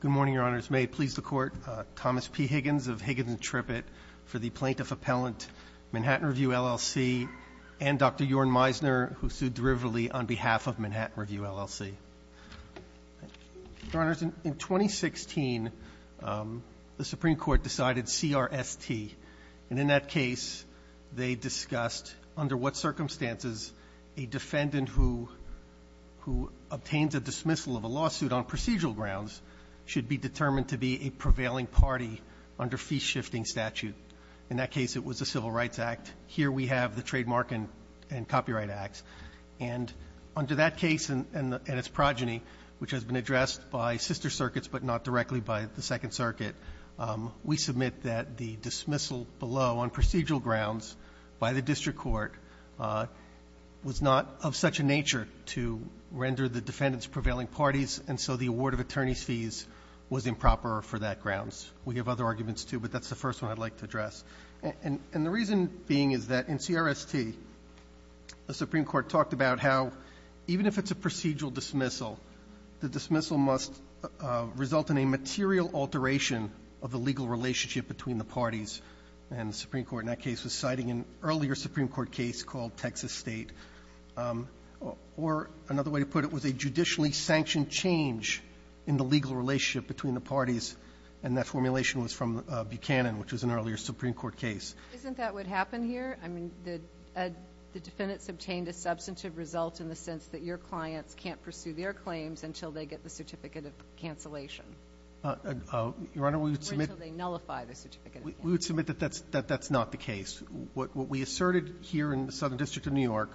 Good morning, Your Honors. May it please the Court, Thomas P. Higgins of Higgins & Trippett for the Plaintiff Appellant, Manhattan Review LLC, and Dr. Jorn Meisner, who sued Driverly on behalf of Manhattan Review LLC. Your Honors, in 2016, the Supreme Court decided CRST, and in that case they discussed under what circumstances a defendant who obtains a dismissal of a lawsuit on procedural grounds should be determined to be a prevailing party under fee-shifting statute. In that case, it was the Civil Rights Act. Here we have the Trademark and Copyright Acts. And under that case and its progeny, which has been addressed by sister circuits but not directly by the second circuit, we submit that the dismissal below on procedural grounds by the district court was not of such a nature to render the defendants prevailing parties, and so the award of attorney's fees was improper for that grounds. We have other arguments, too, but that's the first one I'd like to address. And the reason being is that in CRST, the Supreme Court talked about how even if it's a procedural dismissal, the dismissal must result in a material alteration of the legal relationship between the parties. And the Supreme Court in that case was citing an earlier Supreme Court case called Texas State. Or another way to put it was a judicially sanctioned change in the legal relationship between the parties, and that formulation was from Buchanan, which was an earlier Supreme Court case. Isn't that what happened here? I mean, the defendants obtained a substantive result in the sense that your clients can't pursue their claims until they get the certificate of cancellation. Your Honor, we would submit Or until they nullify the certificate of cancellation. We would submit that that's not the case. What we asserted here in the Southern District of New York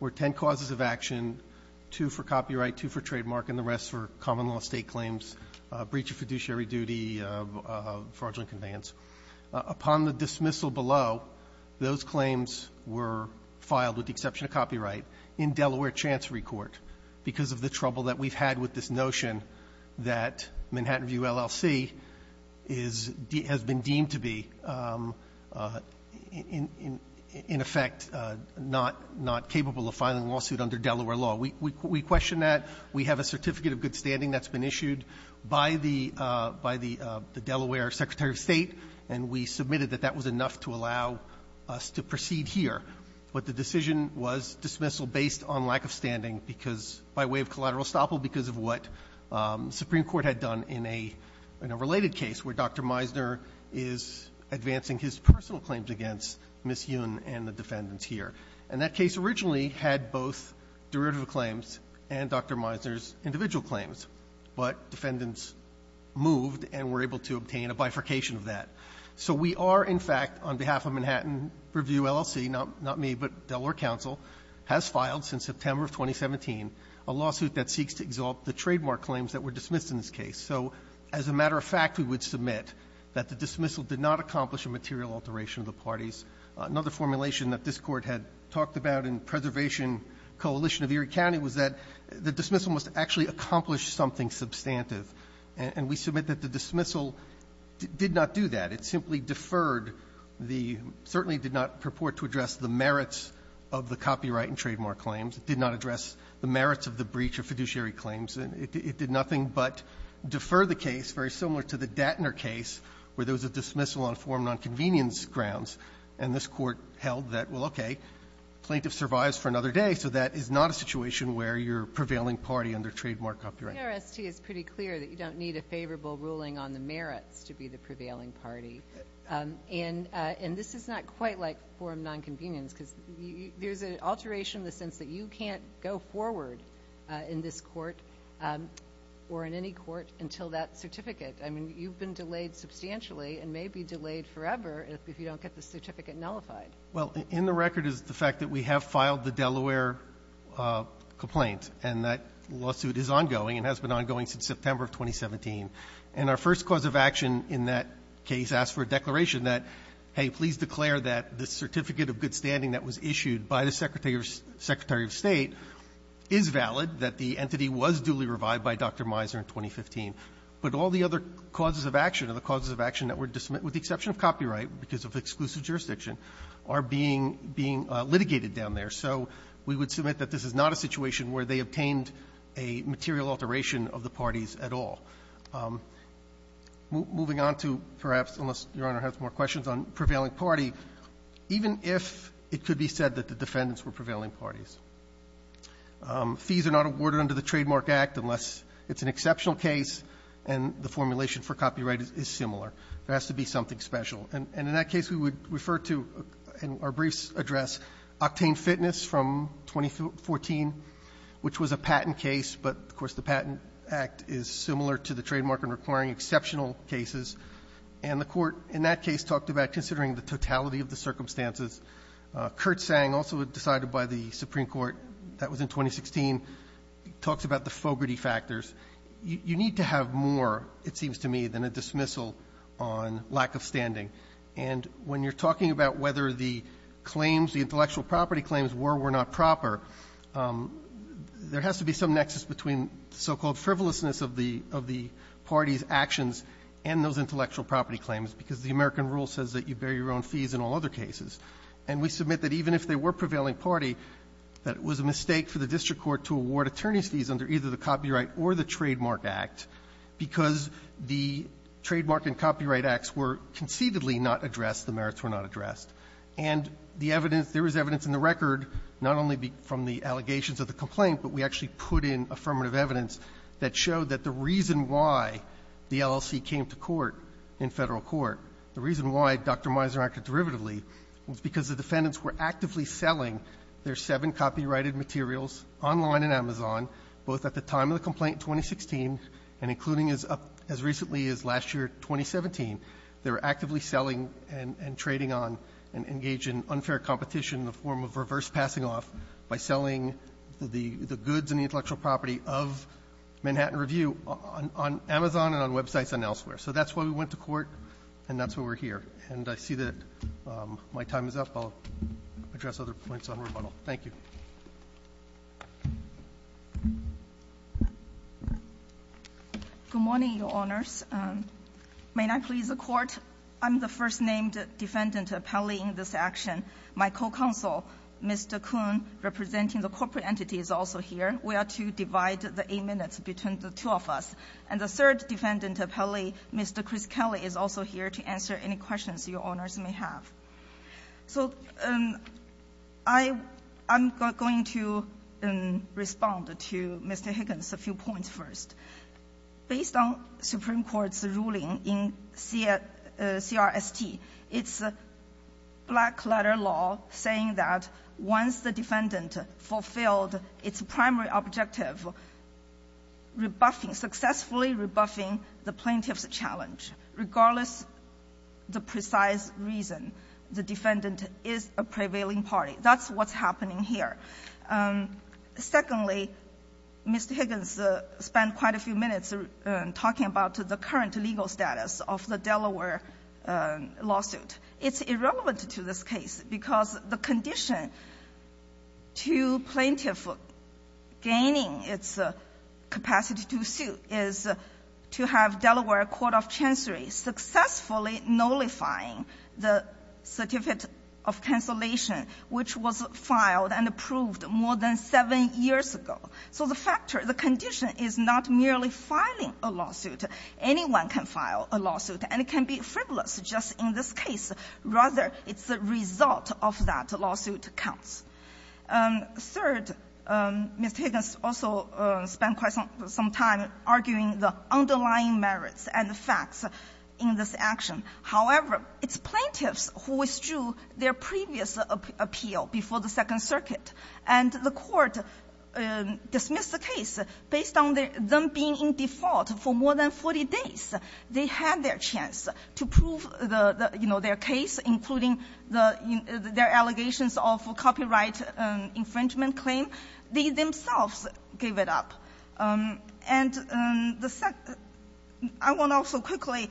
were ten causes of action, two for copyright, two for trademark, and the rest for common law state claims, breach of fiduciary duty, fraudulent conveyance. Upon the dismissal below, those claims were filed with the exception of copyright in Delaware Chancery Court because of the trouble that we've had with this notion that Manhattan View LLC is de — has been deemed to be, in effect, not — not capable of filing a lawsuit under Delaware law. We — we question that. We have a Certificate of Good Standing that's been issued by the — by the Delaware Secretary of State, and we submitted that that was enough to allow us to proceed here. But the decision was dismissal based on lack of standing because — by way of collateral estoppel because of what Supreme Court had done in a — in a related case where Dr. Meisner is advancing his personal claims against Ms. Yoon and the defendants here. And that case originally had both derivative claims and Dr. Meisner's a bifurcation of that. So we are, in fact, on behalf of Manhattan Review LLC, not — not me, but Delaware counsel, has filed since September of 2017 a lawsuit that seeks to exalt the trademark claims that were dismissed in this case. So as a matter of fact, we would submit that the dismissal did not accomplish a material alteration of the parties. Another formulation that this Court had talked about in Preservation Coalition of Erie County was that the dismissal must actually accomplish something substantive. And we submit that the dismissal did not do that. It simply deferred the — certainly did not purport to address the merits of the copyright and trademark claims. It did not address the merits of the breach of fiduciary claims. And it did nothing but defer the case, very similar to the Dattner case, where there was a dismissal on form nonconvenience grounds. And this Court held that, well, okay, plaintiff survives for another day, so that is not a situation where you're prevailing party under trademark copyright. — The ERST is pretty clear that you don't need a favorable ruling on the merits to be the prevailing party. And this is not quite like form nonconvenience, because there's an alteration in the sense that you can't go forward in this Court or in any court until that certificate. I mean, you've been delayed substantially and may be delayed forever if you don't get the certificate nullified. — Well, in the record is the fact that we have filed the Delaware complaint, and that lawsuit is ongoing and has been ongoing since September of 2017. And our first cause of action in that case asked for a declaration that, hey, please declare that the certificate of good standing that was issued by the Secretary of State is valid, that the entity was duly revived by Dr. Mizer in 2015. But all the other causes of action, or the causes of action that were to submit with the exception of copyright because of exclusive jurisdiction, are being litigated down there. So we would submit that this is not a situation where they obtained a material alteration of the parties at all. Moving on to perhaps, unless Your Honor has more questions, on prevailing party, even if it could be said that the defendants were prevailing parties. Fees are not awarded under the Trademark Act unless it's an exceptional case and the formulation for copyright is similar. There has to be something special. And in that case, we would refer to, in our briefs address, octane fitness from 2014, which was a patent case. But, of course, the Patent Act is similar to the trademark and requiring exceptional cases. And the Court, in that case, talked about considering the totality of the circumstances. Kurt Sang, also decided by the Supreme Court, that was in 2016, talks about the Fogarty factors. You need to have more, it seems to me, than a dismissal on lack of standing. And when you're talking about whether the claims, the intellectual property claims, were or were not proper, there has to be some nexus between so-called frivolousness of the party's actions and those intellectual property claims, because the American rule says that you bear your own fees in all other cases. And we submit that even if they were prevailing party, that it was a mistake for the district court to award attorneys' fees under either the Copyright or the Trademark Act, because the Trademark and Copyright Acts were concededly not addressed, the merits were not addressed. And the evidence – there was evidence in the record, not only from the allegations of the complaint, but we actually put in affirmative evidence that showed that the reason why the LLC came to court in Federal court, the reason why Dr. Mizer acted derivatively, was because the defendants were actively selling their seven copyrighted materials online in Amazon, both at the time of the complaint, 2016, and including as recently as last year, 2017, they were actively selling and trading on and engaged in unfair competition in the form of reverse passing off by selling the goods and intellectual property of Manhattan Review on Amazon and on websites and elsewhere. So that's why we went to court and that's why we're here. And I see that my time is up. I'll address other points on rebuttal. Thank you. Good morning, Your Honors. May I please report? I'm the first named defendant appellee in this action. My co-counsel, Mr. Kuhn, representing the corporate entities also here. We are to divide the eight minutes between the two of us. And the third defendant appellee, Mr. Chris Kelly, is also here to answer any questions your Honors may have. So I'm going to respond to Mr. Higgins a few points first. Based on Supreme Court's ruling in CRST, it's a black letter law saying that once the defendant fulfilled its primary objective, rebuffing, successfully rebuffing the plaintiff's challenge, regardless of the precise reason, the defendant is a prevailing party. That's what's happening here. Secondly, Mr. Higgins spent quite a few minutes talking about the current legal status of the Delaware lawsuit. It's irrelevant to this case because the condition to plaintiff gaining its capacity to sue is to have Delaware Court of Chancery successfully nullifying the certificate of cancellation, which was filed and approved more than seven years ago. So the factor, the condition is not merely filing a lawsuit. Anyone can file a lawsuit. And it can be frivolous just in this case. Rather, it's the result of that lawsuit counts. Third, Mr. Higgins also spent quite some time arguing the underlying merits and the facts in this action. However, it's plaintiffs who withdrew their previous appeal before the Second Circuit. And the Court dismissed the case based on them being in default for more than 40 days. They had their chance to prove, you know, their case, including their allegations of copyright infringement claim. They themselves gave it up. And I want to also quickly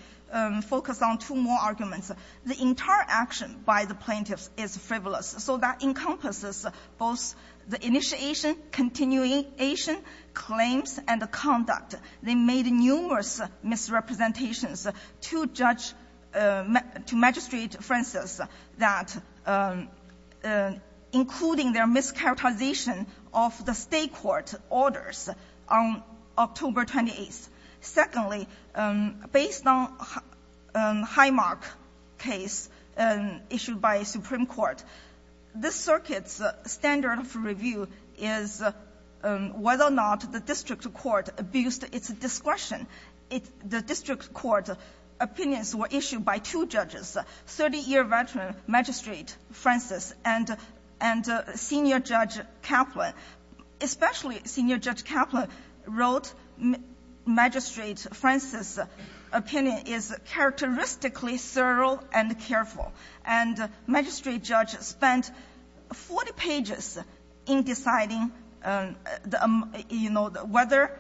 focus on two more arguments. The entire action by the plaintiffs is frivolous. So that encompasses both the initiation, continuation, claims, and the conduct. They made numerous misrepresentations to judge to Magistrate Francis that including their mischaracterization of the State court orders on October 28th. Secondly, based on Highmark case issued by Supreme Court, this circuit's standard of review is whether or not the district court abused its discretion. The district court opinions were issued by two judges, 30-year veteran Magistrate Francis and Senior Judge Kaplan. Especially Senior Judge Kaplan wrote Magistrate Francis' opinion is characteristically thorough and careful. And Magistrate judge spent 40 pages in deciding, you know, whether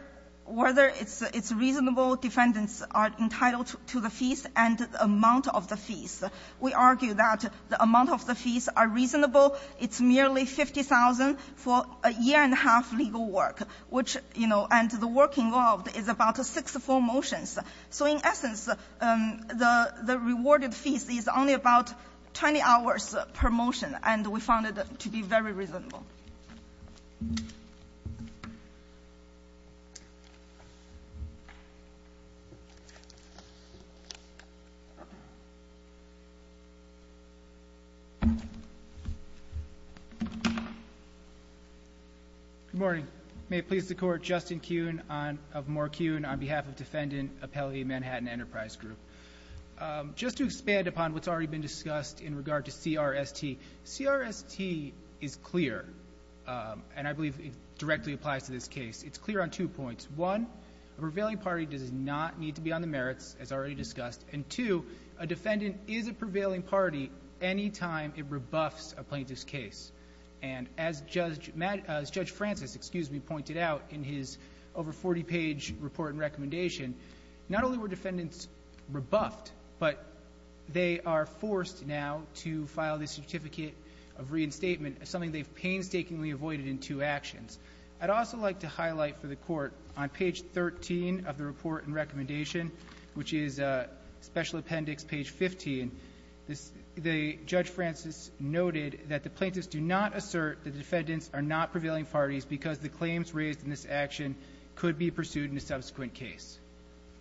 its reasonable defendants are entitled to the fees and the amount of the fees. We argue that the amount of the fees are reasonable. It's merely 50,000 for a year and a half legal work, which, you know, and the work involved is about six full motions. So in essence, the rewarded fees is only about 20 hours per motion, and we found that to be very reasonable. Good morning. May it please the Court, Justin Kuhn of Moore Kuhn on behalf of Defendant Appellee Manhattan Enterprise Group. Just to expand upon what's already been discussed in regard to CRST, CRST is clear, and I believe it directly applies to this case. It's clear on two points. One, a prevailing party does not need to be on the merits, as already discussed. And two, a defendant is a prevailing party any time it rebuffs a plaintiff's case. And as Judge Francis, excuse me, pointed out in his over 40-page report and recommendation, not only were defendants rebuffed, but they are forced now to file the Certificate of Reinstatement, something they've painstakingly avoided in two actions. I'd also like to highlight for the Court, on page 13 of the report and recommendation, which is Special Appendix page 15, this the Judge Francis noted that the plaintiffs do not assert that the defendants are not prevailing parties because the claims raised in this action could be pursued in a subsequent case.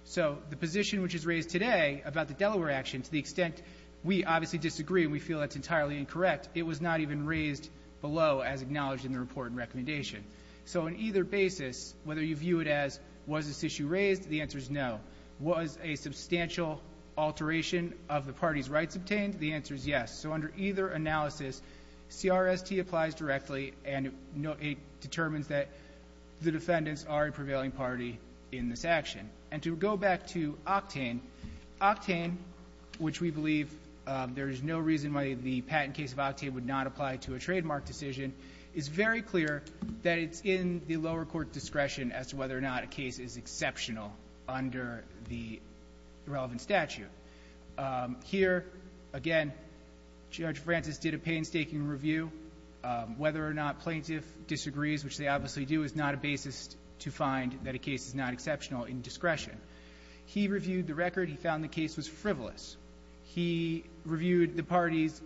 So the position which is raised today about the Delaware action, to the extent we obviously disagree and we feel that's entirely incorrect, it was not even raised below as acknowledged in the report and recommendation. So on either basis, whether you view it as was this issue raised, the answer is no. Was a substantial alteration of the parties' rights obtained? The answer is yes. So under either analysis, CRST applies directly and it determines that the defendants are a prevailing party in this action. And to go back to Octane, Octane, which we believe there is no reason why the patent case of Octane would not apply to a trademark decision, is very clear that it's in the lower court's discretion as to whether or not a case is exceptional under the relevant statute. Here, again, Judge Francis did a painstaking review whether or not plaintiff disagrees, which they obviously do, is not a basis to find that a case is not exceptional in discretion. He reviewed the record. He found the case was frivolous. He reviewed the parties'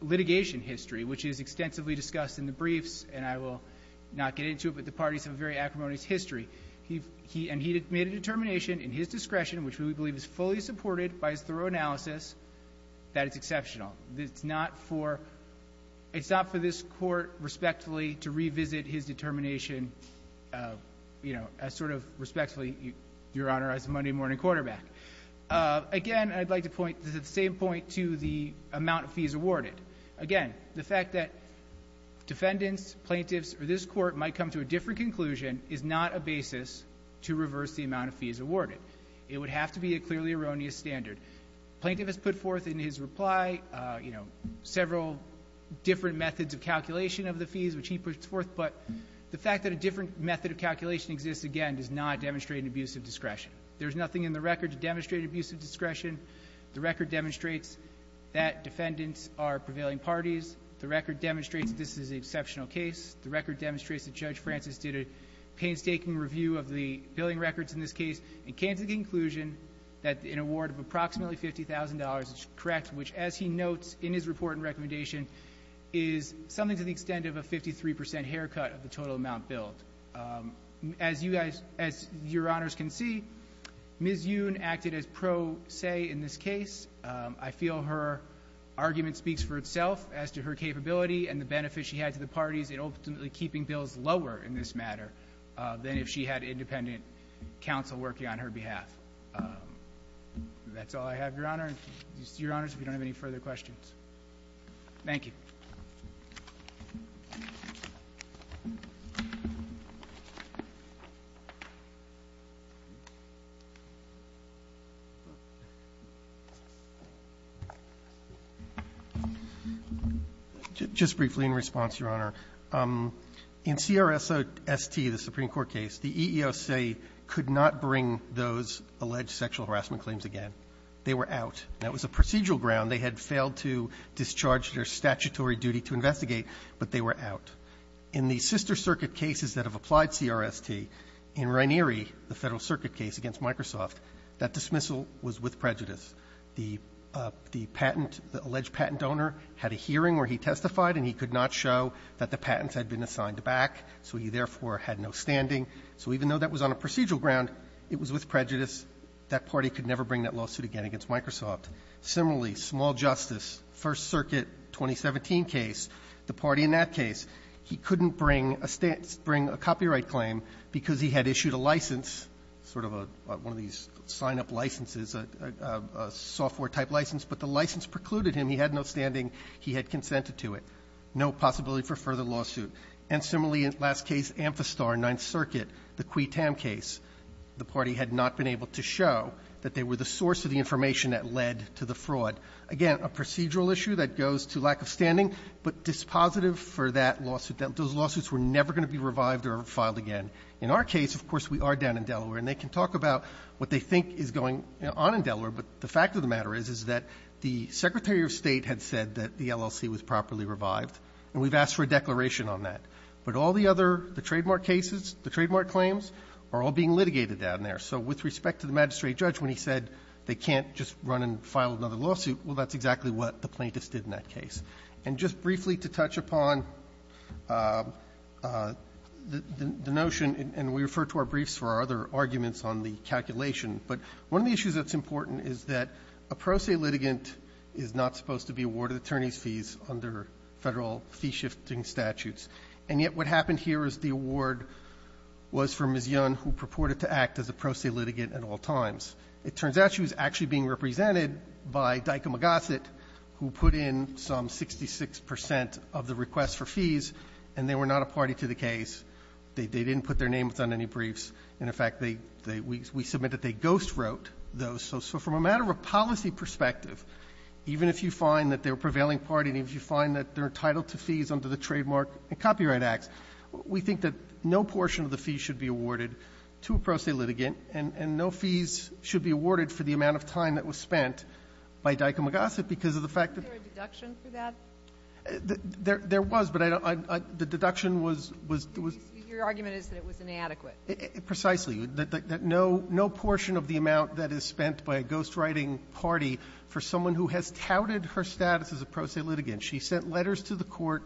litigation history, which is extensively discussed in the briefs, and I will not get into it, but the parties have a very acrimonious history. He made a determination in his discretion, which we believe is fully supported by his thorough analysis, that it's exceptional. It's not for this Court, respectfully, to revisit his determination, you know, as sort of respectfully, Your Honor, as Monday morning quarterback. Again, I'd like to point to the same point to the amount of fees awarded. Again, the fact that defendants, plaintiffs, or this Court might come to a different conclusion is not a basis to reverse the amount of fees awarded. It would have to be a clearly erroneous standard. The plaintiff has put forth in his reply, you know, several different methods of calculation of the fees which he puts forth, but the fact that a different method of calculation exists, again, does not demonstrate an abuse of discretion. There's nothing in the record to demonstrate an abuse of discretion. The record demonstrates that defendants are prevailing parties. The record demonstrates that this is an exceptional case. The record demonstrates that Judge Francis did a painstaking review of the billing records in this case and came to the conclusion that an award of approximately $50,000 is correct, which, as he notes in his report and recommendation, is something to the extent of a 53% haircut of the total amount billed. As Your Honors can see, Ms. Yoon acted as pro se in this case. I feel her argument speaks for itself as to her capability and the benefit she had to the parties in ultimately keeping bills lower in this matter than if she had independent counsel working on her behalf. That's all I have, Your Honor. Your Honors, if you don't have any further questions. Thank you. Just briefly in response, Your Honor. In CRST, the Supreme Court case, the EEOC could not bring those alleged sexual harassment claims again. They were out. That was a procedural ground. They had failed to discharge their statutory duty to investigate, but they were out. In the sister circuit cases that have applied CRST, in Ranieri, the Federal Circuit case against Microsoft, that dismissal was with prejudice. The patent, the alleged patent owner had a hearing where he testified, and he could not show that the patents had been assigned back, so he therefore had no standing. So even though that was on a procedural ground, it was with prejudice. That party could never bring that lawsuit again against Microsoft. Similarly, small justice, First Circuit 2017 case, the party in that case, he couldn't bring a copyright claim because he had issued a license, sort of one of these sign-up licenses, a software-type license, but the license precluded him. He had no standing. He had consented to it. No possibility for further lawsuit. And similarly, in the last case, Amphistar, Ninth Circuit, the Quee Tam case, the party had not been able to show that they were the source of the information that led to the fraud. Again, a procedural issue that goes to lack of standing, but dispositive for that lawsuit. Those lawsuits were never going to be revived or filed again. In our case, of course, we are down in Delaware, and they can talk about what they think is going on in Delaware, but the fact of the matter is, is that the Secretary of State had said that the LLC was properly revived, and we've asked for a declaration on that. But all the other, the trademark cases, the trademark claims, are all being litigated down there. So with respect to the magistrate judge, when he said they can't just run and file another lawsuit, well, that's exactly what the plaintiffs did in that case. And just briefly to touch upon the notion, and we refer to our briefs for our other arguments on the calculation, but one of the issues that's important is that a pro se litigant is not supposed to be awarded attorney's fees under Federal fee-shifting statutes. And yet what happened here is the award was for Ms. Young, who purported to act as a pro se litigant at all times. It turns out she was actually being represented by Dyck and McGossett, who put in some 66 percent of the requests for fees, and they were not a party to the case. They didn't put their name on any briefs. And, in fact, we submit that they ghostwrote those. So from a matter of policy perspective, even if you find that they're a prevailing party and if you find that they're entitled to fees under the Trademark and Copyright Acts, we think that no portion of the fees should be awarded to a pro se litigant, and no fees should be awarded for the amount of time that was spent by Dyck and McGossett because of the fact that they're a deduction for that. There was, but I don't – the deduction was – Your argument is that it was inadequate. Precisely. No portion of the amount that is spent by a ghostwriting party for someone who has touted her status as a pro se litigant. She sent letters to the Court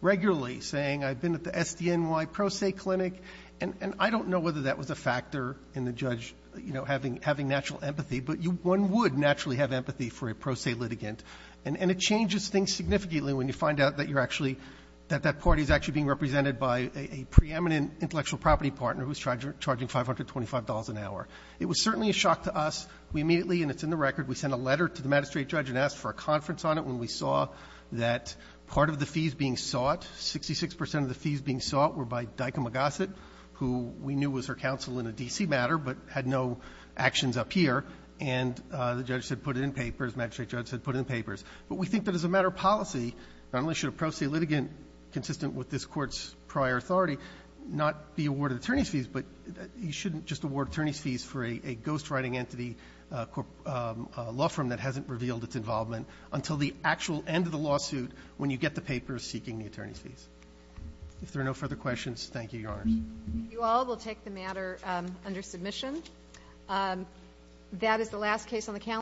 regularly saying, I've been at the SDNY pro se clinic, and I don't know whether that was a factor in the judge, you know, having natural empathy, but one would naturally have empathy for a pro se litigant. And it changes things significantly when you find out that you're actually – that that party is actually being represented by a preeminent intellectual property partner who's charging $525 an hour. It was certainly a shock to us. We immediately – and it's in the record – we sent a letter to the magistrate judge and asked for a conference on it when we saw that part of the fees being sought, 66 percent of the fees being sought, were by Dyck actions up here, and the judge said put in papers, magistrate judge said put in papers. But we think that as a matter of policy, not only should a pro se litigant consistent with this Court's prior authority not be awarded attorney's fees, but you shouldn't just award attorney's fees for a ghostwriting entity, a law firm that hasn't revealed its involvement, until the actual end of the lawsuit when you get the papers seeking the attorney's fees. If there are no further questions, thank you, Your Honors. Thank you all. We'll take the matter under submission.